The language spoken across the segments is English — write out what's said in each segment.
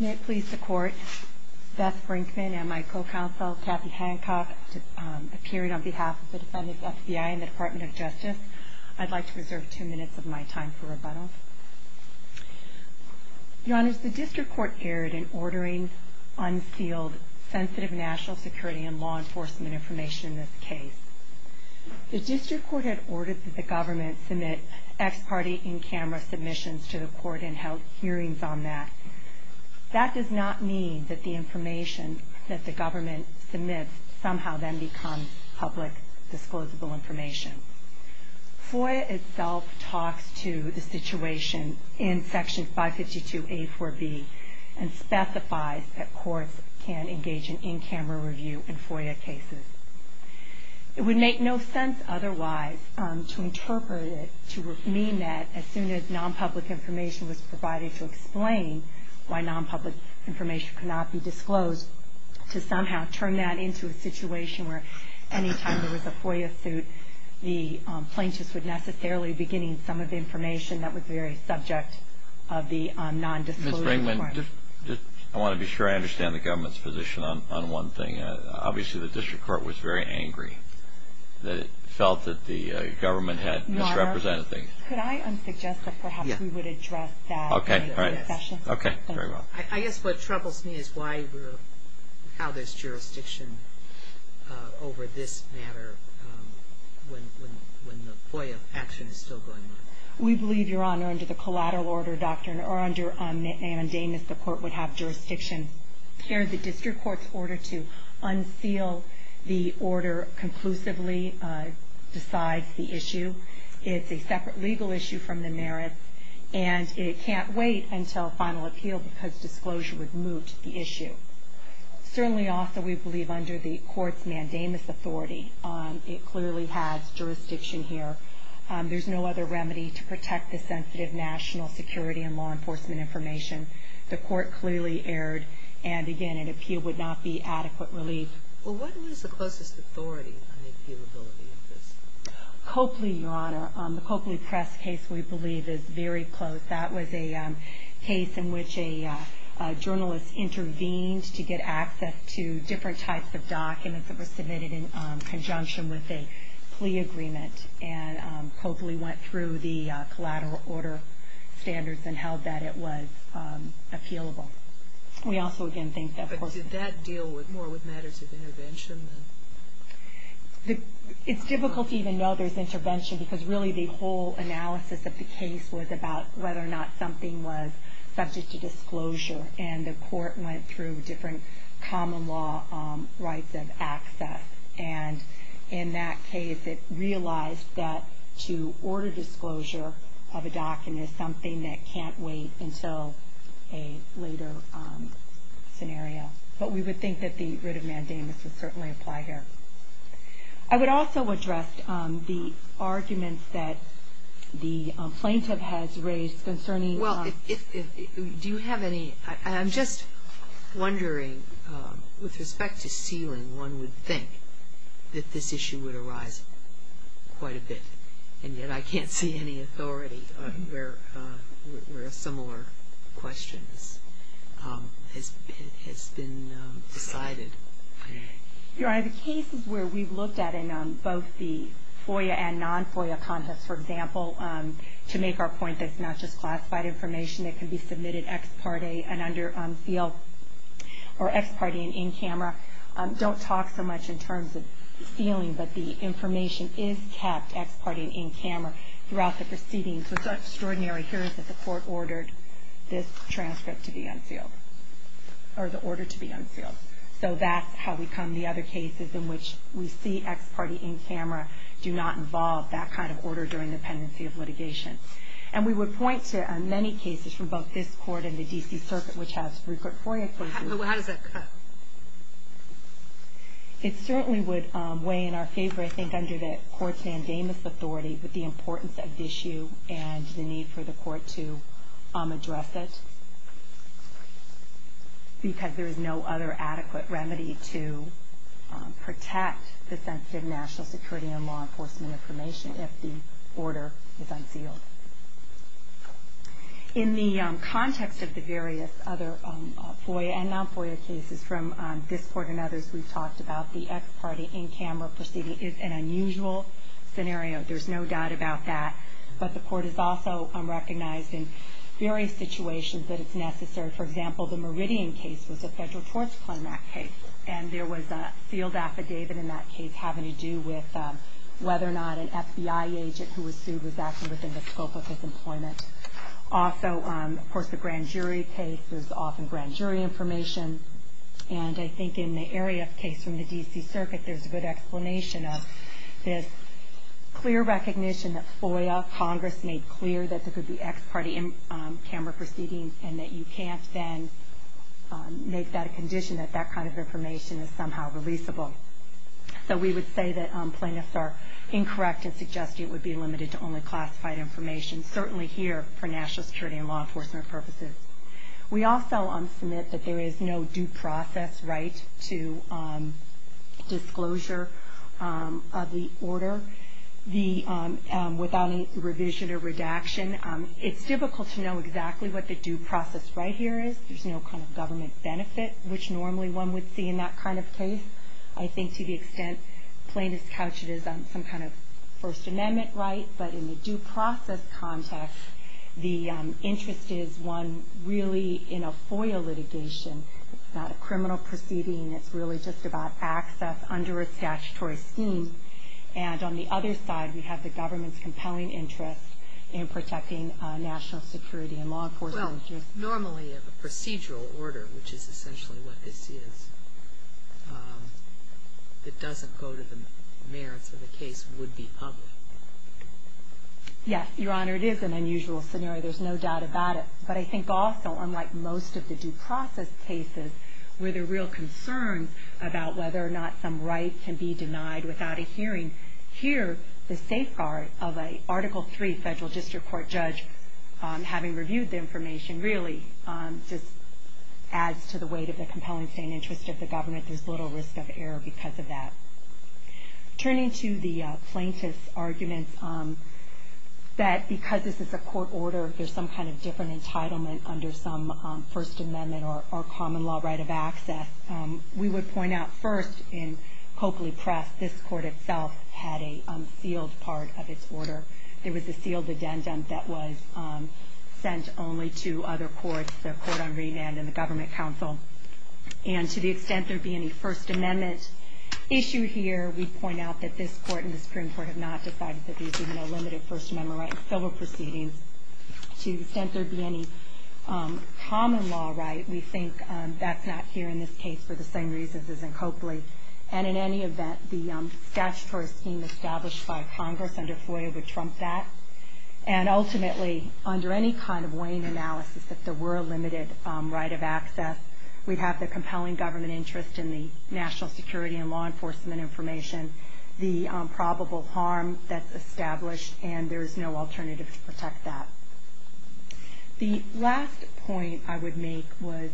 May it please the court, Beth Brinkman and my co-counsel Kathy Hancock appearing on behalf of the defendant's FBI and the Department of Justice. I'd like to reserve two minutes of my time for rebuttal. Your Honor, the District Court erred in ordering unsealed sensitive national security and law enforcement information in this case. The District Court had ordered that the government submit ex-party in-camera submissions to the court and held hearings on that. That does not mean that the information that the government submits somehow then becomes public, disclosable information. FOIA itself talks to the situation in Section 552A-4B and specifies that courts can engage in in-camera review in FOIA cases. It would make no sense otherwise to interpret it to mean that as soon as non-public information was provided to explain why non-public information cannot be disclosed, to somehow turn that into a situation where any time there was a FOIA suit, the plaintiffs would necessarily be getting some of the information that was very subject of the non-disclosure requirement. Ms. Brinkman, I want to be sure I understand the government's position on one thing. Obviously, the District Court was very angry that it felt that the government had misrepresented things. Your Honor, could I suggest that perhaps we would address that during the session? Okay. Very well. I guess what troubles me is how there's jurisdiction over this matter when the FOIA action is still going on. We believe, Your Honor, under the collateral order doctrine, or under mandamus, the court would have jurisdiction here. The District Court's order to unseal the order conclusively decides the issue. It's a separate legal issue from the merits, and it can't wait until final appeal because disclosure would moot the issue. Certainly also, we believe under the court's mandamus authority, it clearly has jurisdiction here. There's no other remedy to protect the sensitive national security and law enforcement information. The court clearly erred, and again, an appeal would not be adequate relief. Well, what was the closest authority on the appealability of this? Copley, Your Honor. The Copley press case, we believe, is very close. That was a case in which a journalist intervened to get access to different types of documents that were submitted in conjunction with a plea agreement. Copley went through the collateral order standards and held that it was appealable. We also, again, think that... But did that deal more with matters of intervention? It's difficult to even know there's intervention because really the whole analysis of the case was about whether or not something was subject to disclosure, and in that case, it realized that to order disclosure of a document is something that can't wait until a later scenario. But we would think that the writ of mandamus would certainly apply here. I would also address the arguments that the plaintiff has raised concerning... I'm just wondering, with respect to sealing, one would think that this issue would arise quite a bit, and yet I can't see any authority where a similar question has been decided. Your Honor, the cases where we've looked at in both the FOIA and non-FOIA contests, for example, to make our point that it's not just classified information that can be submitted ex parte and in camera, don't talk so much in terms of sealing, but the information is kept ex parte and in camera throughout the proceedings. What's extraordinary here is that the court ordered this transcript to be unsealed, or the order to be unsealed. So that's how we come... The other cases in which we see ex parte in camera do not involve that kind of order during the pendency of litigation. And we would point to many cases from both this Court and the D.C. Circuit, which has frequent FOIA cases. How does that cut? It certainly would weigh in our favor, I think, under the court's mandamus authority, with the importance of the issue and the need for the court to address it, because there is no other adequate remedy to protect the sensitive national security and law enforcement information if the order is unsealed. In the context of the various other FOIA and non-FOIA cases from this Court and others we've talked about, the ex parte in camera proceeding is an unusual scenario. There's no doubt about that. But the court has also recognized in various situations that it's necessary. For example, the Meridian case was a federal torts claimant case, and there was a sealed affidavit in that case having to do with whether or not an FBI agent who was sued was acting within the scope of his employment. Also, of course, the grand jury case, there's often grand jury information. And I think in the area of case from the D.C. Circuit, there's a good explanation of this clear recognition that FOIA, Congress, made clear that there could be ex parte in camera proceedings, and that you can't then make that a condition that that kind of information is somehow releasable. So we would say that plaintiffs are incorrect in suggesting it would be limited to only classified information, certainly here for national security and law enforcement purposes. We also submit that there is no due process right to disclosure of the order without any revision or redaction. It's difficult to know exactly what the due process right here is. There's no kind of government benefit, which normally one would see in that kind of case. I think to the extent plaintiffs couch it as some kind of First Amendment right, but in the due process context, the interest is one really in a FOIA litigation. It's not a criminal proceeding. It's really just about access under a statutory scheme. And on the other side, we have the government's compelling interest in protecting national security and law enforcement interests. Normally a procedural order, which is essentially what this is, that doesn't go to the merits of the case would be public. Yes, Your Honor, it is an unusual scenario. There's no doubt about it. But I think also, unlike most of the due process cases, where there are real concerns about whether or not some right can be denied without a hearing, here, the safeguard of an Article III federal district court judge, having reviewed the information, really just adds to the weight of the compelling interest of the government. There's little risk of error because of that. Turning to the plaintiff's arguments that because this is a court order, there's some kind of different entitlement under some First Amendment or common law right of access, we would point out first, in Coakley Press, this court itself had a sealed part of its order. There was a sealed addendum that was sent only to other courts, the Court on Remand and the Government Council. And to the extent there be any First Amendment issue here, we point out that this court and the Supreme Court have not decided that these are no limited First Amendment rights. There were proceedings. To the extent there be any common law right, we think that's not here in this case for the same reasons as in Coakley. And in any event, the statutory scheme established by Congress under FOIA would trump that. And ultimately, under any kind of weighing analysis, if there were a limited right of access, we'd have the compelling government interest in the national security and law enforcement information, the probable harm that's established, and there's no alternative to protect that. The last point I would make was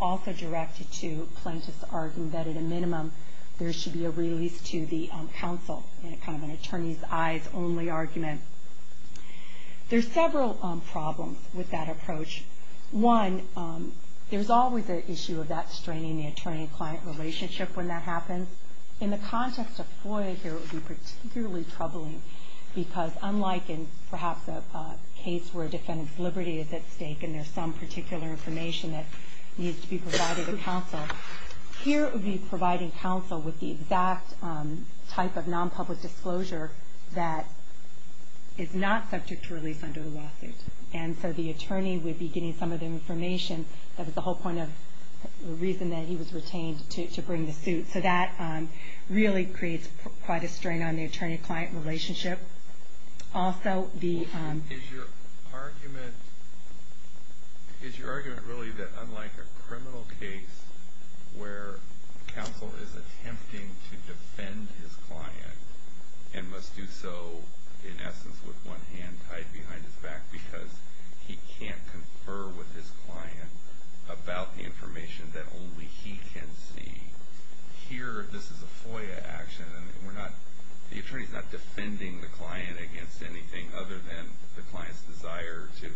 also directed to plaintiffs arguing that at a minimum, there should be a release to the counsel, kind of an attorney's eyes only argument. There's several problems with that approach. One, there's always an issue of that straining the attorney-client relationship when that happens. So in the context of FOIA here, it would be particularly troubling, because unlike in perhaps a case where a defendant's liberty is at stake and there's some particular information that needs to be provided to counsel, here it would be providing counsel with the exact type of nonpublic disclosure that is not subject to release under the lawsuit. And so the attorney would be getting some of the information. That was the whole point of the reason that he was retained, to bring the suit. So that really creates quite a strain on the attorney-client relationship. Also, the... Is your argument really that unlike a criminal case where counsel is attempting to defend his client and must do so in essence with one hand tied behind his back because he can't confer with his client about the information that only he can see? Here, this is a FOIA action. The attorney's not defending the client against anything other than the client's desire to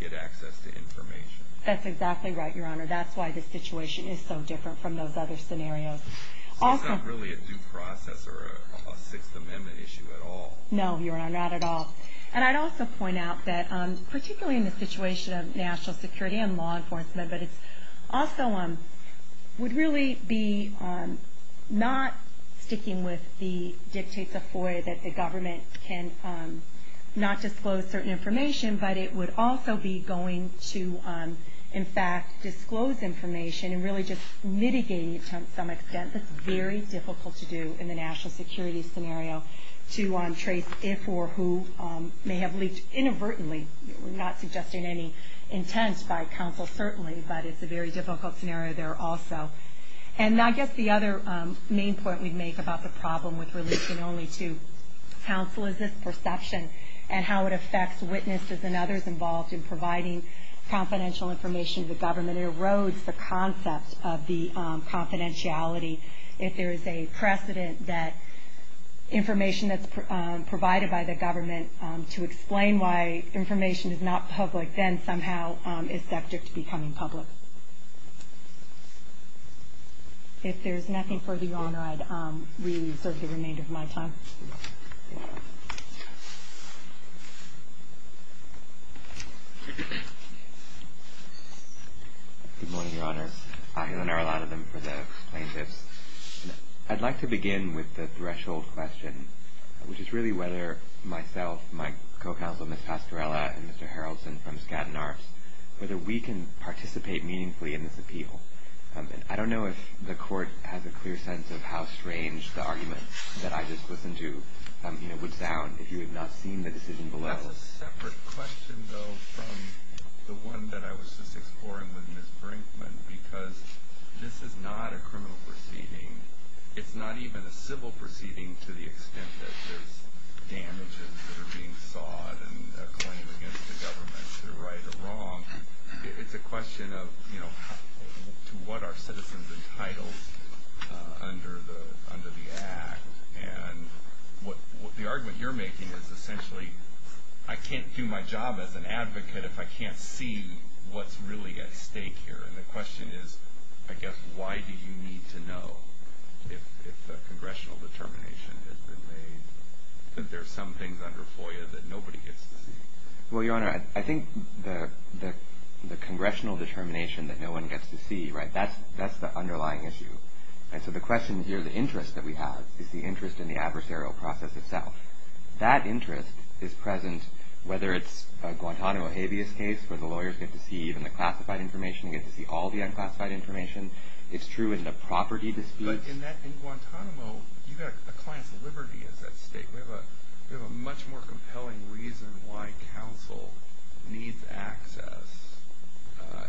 get access to information. That's exactly right, Your Honor. That's why the situation is so different from those other scenarios. So it's not really a due process or a Sixth Amendment issue at all? No, Your Honor, not at all. And I'd also point out that particularly in the situation of national security and law enforcement, but it also would really be not sticking with the dictates of FOIA that the government can not disclose certain information, but it would also be going to, in fact, disclose information and really just mitigating it to some extent. I think that's very difficult to do in the national security scenario to trace if or who may have leaked inadvertently. We're not suggesting any intent by counsel, certainly, but it's a very difficult scenario there also. And I guess the other main point we'd make about the problem with releasing only to counsel is this perception and how it affects witnesses and others involved in providing confidential information to the government. It erodes the concept of the confidentiality. If there is a precedent that information that's provided by the government to explain why information is not public, then somehow it's subject to becoming public. If there's nothing further, Your Honor, I'd reserve the remainder of my time. Good morning, Your Honor. I'll hear a lot of them for the plaintiffs. I'd like to begin with the threshold question, which is really whether myself, my co-counsel, Ms. Pastorella, and Mr. Haraldson from Skadden Arts, whether we can participate meaningfully in this appeal. I don't know if the Court has a clear sense of how strange the argument that I just listened to would sound if you had not seen the decision below. That's a separate question, though, from the one that I was just exploring with Ms. Brinkman, because this is not a criminal proceeding. It's not even a civil proceeding to the extent that there's damages that are being sawed and a claim against the government to right a wrong. It's a question of, you know, to what are citizens entitled under the Act? And the argument you're making is essentially, I can't do my job as an advocate if I can't see what's really at stake here. And the question is, I guess, why do you need to know if a congressional determination has been made? I think there are some things under FOIA that nobody gets to see. Well, Your Honor, I think the congressional determination that no one gets to see, right, that's the underlying issue. And so the question here, the interest that we have, is the interest in the adversarial process itself. That interest is present whether it's a Guantanamo habeas case where the lawyers get to see even the classified information, get to see all the unclassified information. It's true in the property disputes. But in Guantanamo, you've got a client's liberty as that state. We have a much more compelling reason why counsel needs access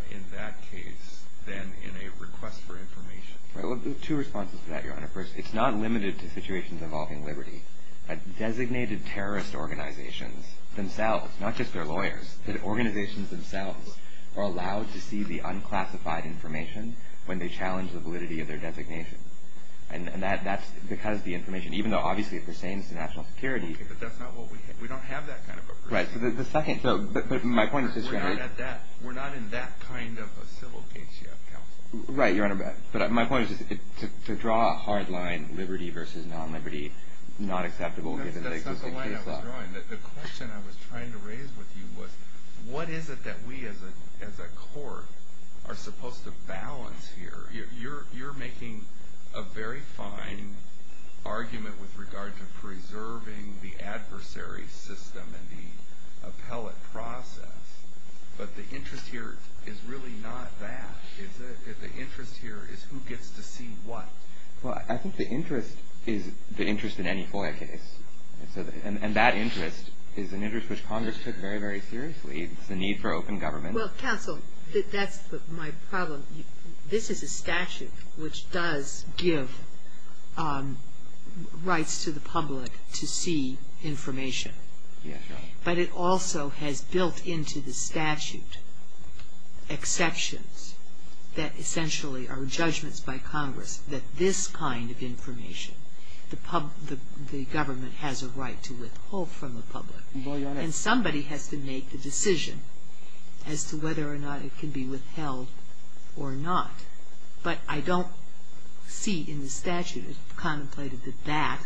in that case than in a request for information. Well, there are two responses to that, Your Honor. First, it's not limited to situations involving liberty. Designated terrorist organizations themselves, not just their lawyers, but organizations themselves are allowed to see the unclassified information when they challenge the validity of their designation. And that's because the information, even though obviously it pertains to national security. But that's not what we have. We don't have that kind of a person. Right. So the second, but my point is just going to be. We're not at that. We're not in that kind of a civil case yet, counsel. Right, Your Honor. But my point is just to draw a hard line, liberty versus non-liberty, not acceptable given the existing case law. Your Honor, the question I was trying to raise with you was what is it that we as a court are supposed to balance here? You're making a very fine argument with regard to preserving the adversary system and the appellate process. But the interest here is really not that. The interest here is who gets to see what. Well, I think the interest is the interest in any FOIA case. And that interest is an interest which Congress took very, very seriously. It's the need for open government. Well, counsel, that's my problem. This is a statute which does give rights to the public to see information. Yes, Your Honor. But it also has built into the statute exceptions that essentially are judgments by Congress that this kind of information, the government has a right to withhold from the public. Well, Your Honor. And somebody has to make the decision as to whether or not it can be withheld or not. But I don't see in the statute, as contemplated, that that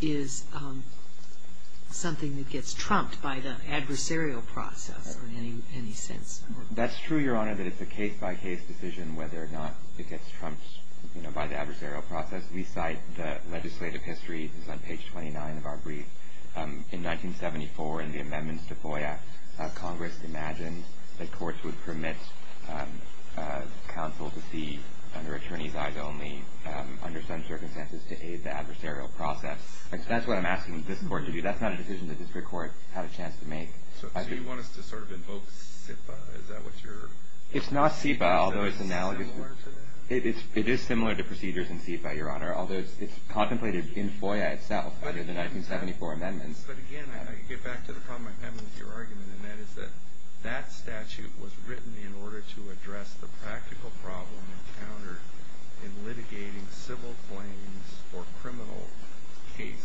is something that gets trumped by the adversarial process in any sense. That's true, Your Honor, that it's a case-by-case decision whether or not it gets trumped by the adversarial process. We cite the legislative history. It's on page 29 of our brief. In 1974, in the Amendments to FOIA, Congress imagined that courts would permit counsel to see under attorneys' eyes only, under some circumstances, to aid the adversarial process. That's what I'm asking this Court to do. That's not a decision that this Court had a chance to make. So you want us to sort of invoke SIPA? Is that what you're saying? It's not SIPA, although it's analogous. So it's similar to that? It is similar to procedures in SIPA, Your Honor, although it's contemplated in FOIA itself under the 1974 amendments. But again, I get back to the problem I'm having with your argument, and that is that that statute was written in order to address the practical problem encountered in litigating civil claims or criminal cases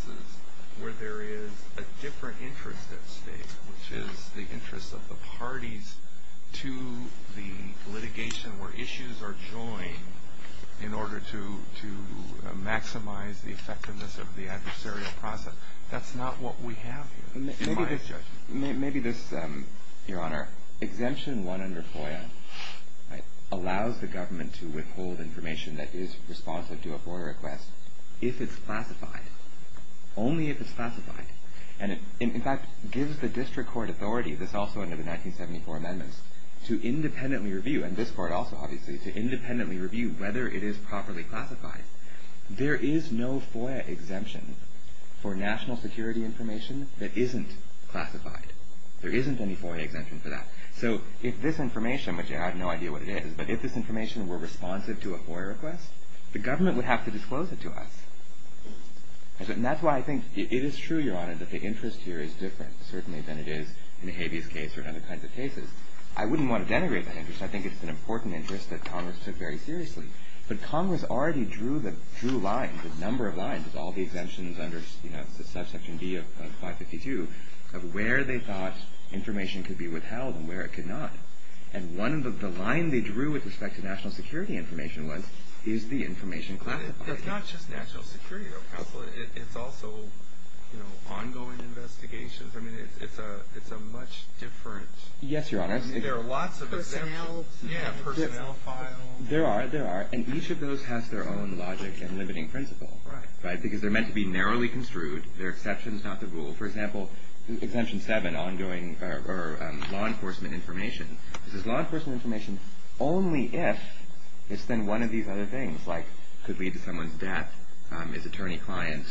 where there is a different interest at stake, which is the interest of the parties to the litigation where issues are joined in order to maximize the effectiveness of the adversarial process. That's not what we have here, in my judgment. Maybe this, Your Honor, exemption one under FOIA allows the government to withhold information that is responsive to a FOIA request if it's classified, only if it's classified. And it, in fact, gives the district court authority, this also under the 1974 amendments, to independently review, and this Court also, obviously, to independently review whether it is properly classified. There is no FOIA exemption for national security information that isn't classified. There isn't any FOIA exemption for that. So if this information, which I have no idea what it is, but if this information were responsive to a FOIA request, the government would have to disclose it to us. And that's why I think it is true, Your Honor, that the interest here is different, certainly than it is in the habeas case or other kinds of cases. I wouldn't want to denigrate that interest. I think it's an important interest that Congress took very seriously. But Congress already drew the, drew lines, a number of lines, with all the exemptions under, you know, subsection D of 552, of where they thought information could be withheld and where it could not. And one of the lines they drew with respect to national security information was, is the information classified? It's not just national security, though, Counselor. It's also, you know, ongoing investigations. I mean, it's a, it's a much different. Yes, Your Honor. There are lots of exemptions. Personnel. Yeah, personnel files. There are, there are. And each of those has their own logic and limiting principle. Right. Right? Because they're meant to be narrowly construed. They're exceptions, not the rule. For example, Exemption 7, ongoing, or law enforcement information. This is law enforcement information only if it's then one of these other things, like could lead to someone's death, is attorney-client,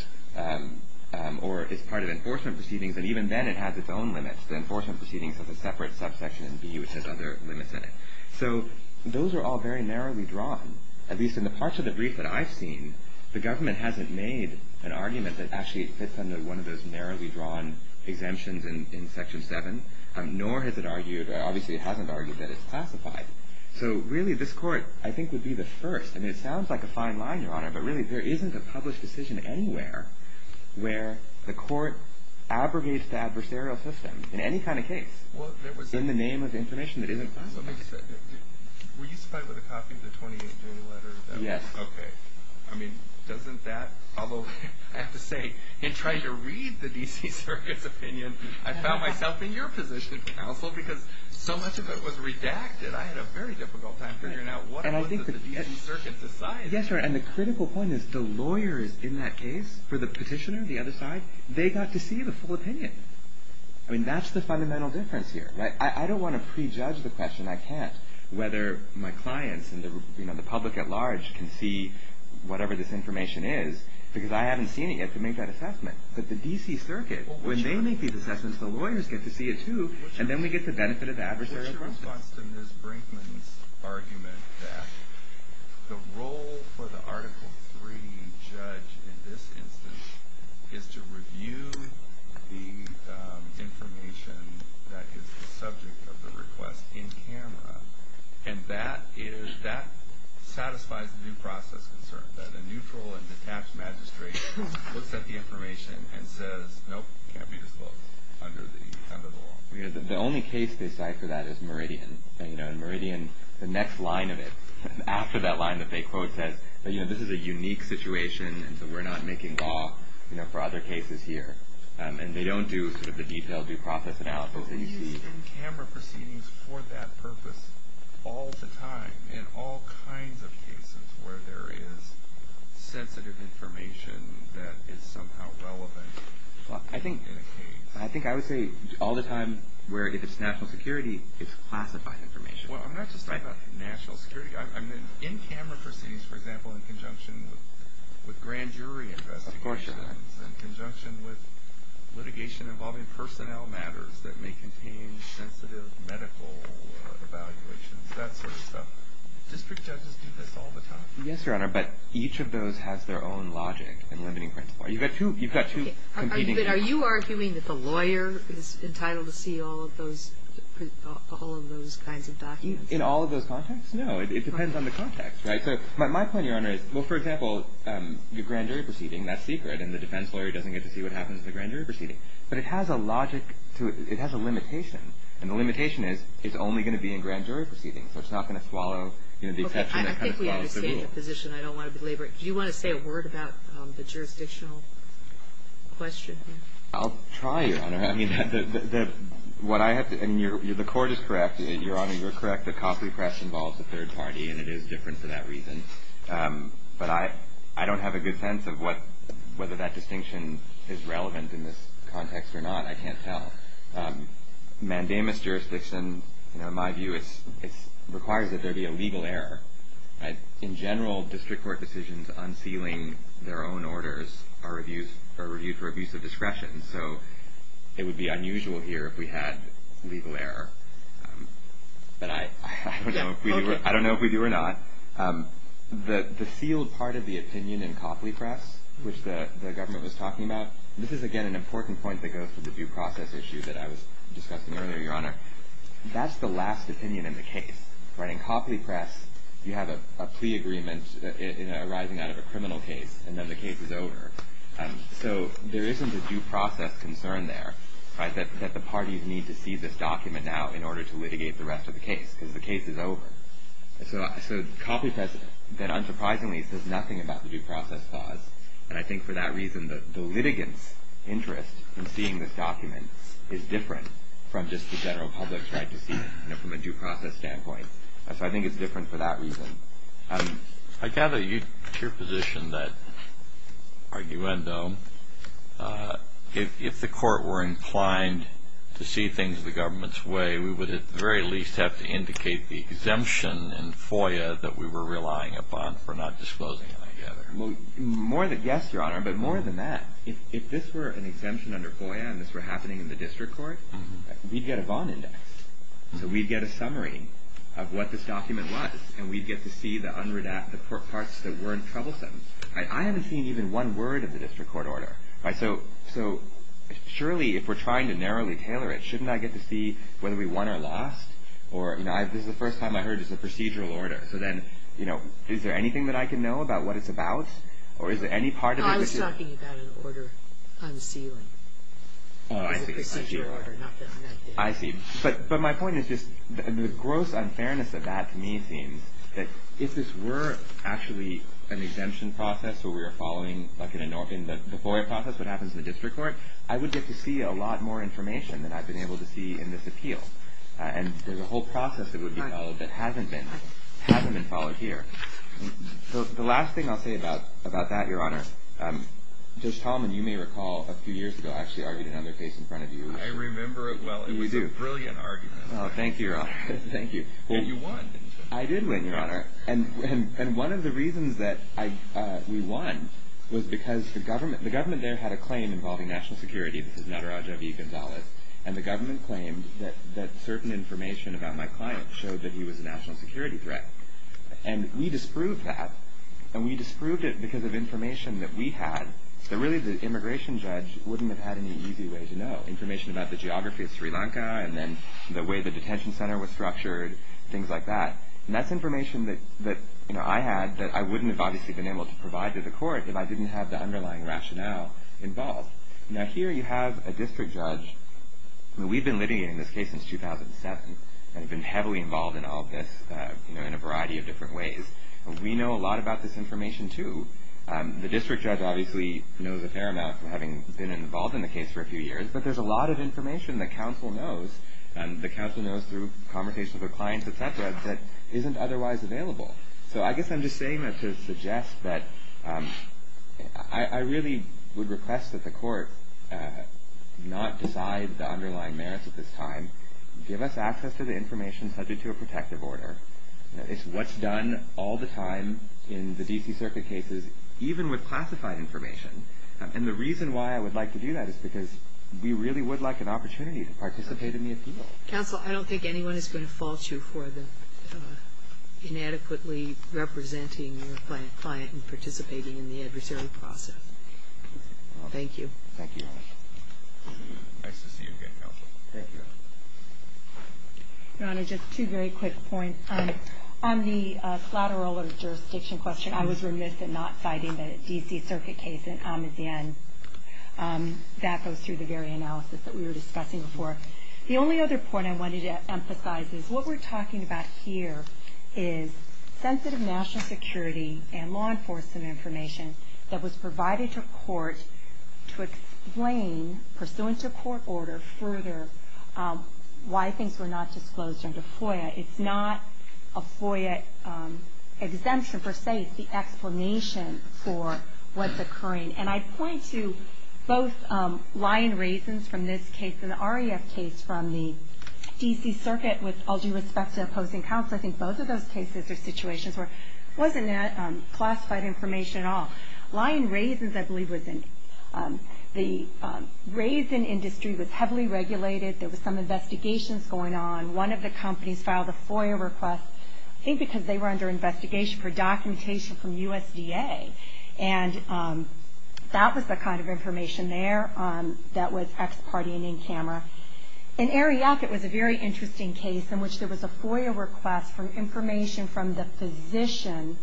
or is part of enforcement proceedings. And even then it has its own limits. The enforcement proceedings has a separate subsection in D which has other limits in it. So those are all very narrowly drawn. At least in the parts of the brief that I've seen, the government hasn't made an argument that actually it fits under one of those narrowly drawn exemptions in Section 7, nor has it argued, or obviously it hasn't argued, that it's classified. So really this Court, I think, would be the first. I mean, it sounds like a fine line, Your Honor, but really there isn't a published decision anywhere where the Court abrogates the adversarial system in any kind of case. It's in the name of information that isn't public. Were you supplied with a copy of the 28-day letter? Yes. Okay. I mean, doesn't that, although I have to say, in trying to read the D.C. Circuit's opinion, I found myself in your position, counsel, because so much of it was redacted. I had a very difficult time figuring out what it was that the D.C. Circuit decided. Yes, Your Honor, and the critical point is the lawyers in that case, for the petitioner, the other side, they got to see the full opinion. I mean, that's the fundamental difference here. I don't want to prejudge the question. I can't, whether my clients and the public at large can see whatever this information is, because I haven't seen it yet to make that assessment. But the D.C. Circuit, when they make these assessments, the lawyers get to see it, too, and then we get the benefit of the adversarial process. What's your response to Ms. Brinkman's argument that the role for the Article III judge in this instance is to review the information that is the subject of the request in camera, and that satisfies the due process concern, that a neutral and detached magistrate looks at the information and says, nope, it can't be disclosed under the law? The only case they cite for that is Meridian. In Meridian, the next line of it, after that line that they quote says, you know, this is a unique situation, and so we're not making law for other cases here. And they don't do sort of the detailed due process analysis that you see. Do you use in-camera proceedings for that purpose all the time in all kinds of cases where there is sensitive information that is somehow relevant in a case? I think I would say all the time where if it's national security, it's classified information. Well, I'm not just talking about national security. I mean, in-camera proceedings, for example, in conjunction with grand jury investigations and in conjunction with litigation involving personnel matters that may contain sensitive medical evaluations, that sort of stuff, district judges do this all the time. Yes, Your Honor, but each of those has their own logic and limiting principle. You've got two competing cases. But are you arguing that the lawyer is entitled to see all of those kinds of documents? In all of those contexts? No. It depends on the context, right? So my point, Your Honor, is, well, for example, your grand jury proceeding, that's secret, and the defense lawyer doesn't get to see what happens at the grand jury proceeding. But it has a logic to it. It has a limitation. And the limitation is it's only going to be in grand jury proceedings. So it's not going to swallow, you know, the exception that kind of swallows the rule. Okay. I think we understand your position. I don't want to belabor it. Do you want to say a word about the jurisdictional question? I'll try, Your Honor. I mean, what I have to – and the Court is correct, Your Honor. You're correct that Copley Press involves a third party, and it is different for that reason. But I don't have a good sense of whether that distinction is relevant in this context or not. I can't tell. Mandamus jurisdiction, you know, in my view, it requires that there be a legal error. In general, district court decisions unsealing their own orders are reviewed for abuse of discretion. So it would be unusual here if we had legal error. But I don't know if we do or not. The sealed part of the opinion in Copley Press, which the government was talking about, this is, again, an important point that goes to the due process issue that I was discussing earlier, Your Honor. That's the last opinion in the case. In Copley Press, you have a plea agreement arising out of a criminal case, and then the case is over. So there isn't a due process concern there that the parties need to see this document now in order to litigate the rest of the case because the case is over. So Copley Press then, unsurprisingly, says nothing about the due process clause. And I think for that reason, the litigants' interest in seeing this document is different from just the general public's right to see it, you know, from a due process standpoint. So I think it's different for that reason. I gather your position that, arguendo, if the court were inclined to see things the government's way, we would at the very least have to indicate the exemption in FOIA that we were relying upon for not disclosing it, I gather. Well, yes, Your Honor. But more than that, if this were an exemption under FOIA and this were happening in the district court, we'd get a bond index. So we'd get a summary of what this document was, and we'd get to see the parts that weren't troublesome. I haven't seen even one word of the district court order. So surely if we're trying to narrowly tailor it, shouldn't I get to see whether we won or lost? Or, you know, this is the first time I heard it's a procedural order. So then, you know, is there anything that I can know about what it's about, or is there any part of it? I was talking about an order unsealing. Oh, I see. I see. But my point is just the gross unfairness of that to me seems that if this were actually an exemption process where we were following like in the FOIA process what happens in the district court, I would get to see a lot more information than I've been able to see in this appeal. And there's a whole process that would be followed that hasn't been followed here. The last thing I'll say about that, Your Honor, Judge Tallman, you may recall a few years ago, you actually argued another case in front of you. I remember it well. We do. It was a brilliant argument. Oh, thank you, Your Honor. Thank you. And you won. I did win, Your Honor. And one of the reasons that we won was because the government there had a claim involving national security. This is Nataraja V. Gonzalez. And the government claimed that certain information about my client showed that he was a national security threat. And we disproved that, and we disproved it because of information that we had that really the immigration judge wouldn't have had any easy way to know, information about the geography of Sri Lanka and then the way the detention center was structured, things like that. And that's information that I had that I wouldn't have obviously been able to provide to the court if I didn't have the underlying rationale involved. Now, here you have a district judge. We've been litigating this case since 2007 and have been heavily involved in all of this in a variety of different ways. We know a lot about this information, too. The district judge obviously knows a fair amount, having been involved in the case for a few years. But there's a lot of information that counsel knows, and the counsel knows through conversations with clients, et cetera, that isn't otherwise available. So I guess I'm just saying that to suggest that I really would request that the court not decide the underlying merits at this time. Give us access to the information subject to a protective order. It's what's done all the time in the D.C. Circuit cases, even with classified information. And the reason why I would like to do that is because we really would like an opportunity to participate in the appeal. Counsel, I don't think anyone is going to fault you for the inadequately representing your client and participating in the adversary process. Thank you. Thank you, Your Honor. Nice to see you again, counsel. Thank you. Your Honor, just two very quick points. On the collateral or jurisdiction question, I was remiss in not citing the D.C. Circuit case in Amazan. That goes through the very analysis that we were discussing before. The only other point I wanted to emphasize is what we're talking about here is sensitive national security and law enforcement information that was provided to court to explain, pursuant to court order, further why things were not disclosed under FOIA. It's not a FOIA exemption, per se. It's the explanation for what's occurring. And I point to both lying reasons from this case and the REF case from the D.C. Circuit with all due respect to opposing counsel. I think both of those cases or situations where it wasn't classified information at all. Lying reasons, I believe, was the raisin industry was heavily regulated. There was some investigations going on. One of the companies filed a FOIA request, I think because they were under investigation for documentation from USDA. And that was the kind of information there that was ex parte and in camera. In REF, it was a very interesting case in which there was a FOIA request for information from the physician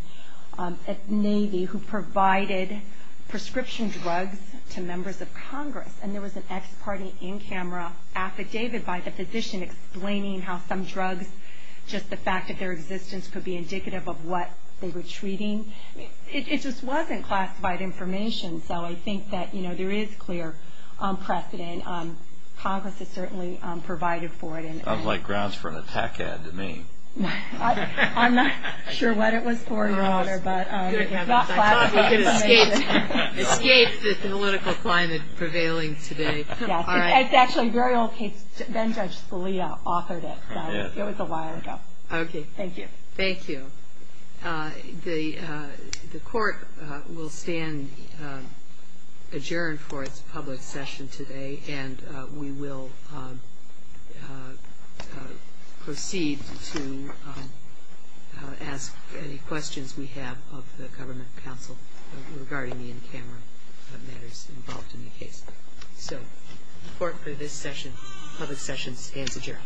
at Navy who provided prescription drugs to members of Congress. And there was an ex parte in camera affidavit by the physician explaining how some drugs, just the fact that their existence could be indicative of what they were treating. It just wasn't classified information. So I think that, you know, there is clear precedent. Congress has certainly provided for it. It sounds like grounds for an attack ad to me. I'm not sure what it was for, Your Honor, but it's not classified information. We could escape the political climate prevailing today. Yes. It's actually a very old case. Ben Judge Scalia authored it. It was a while ago. Okay. Thank you. Thank you. The Court will stand adjourned for its public session today. And we will proceed to ask any questions we have of the Government Counsel regarding the in-camera matters involved in the case. So the Court for this session, public session, stands adjourned. All rise for the second round of hearings.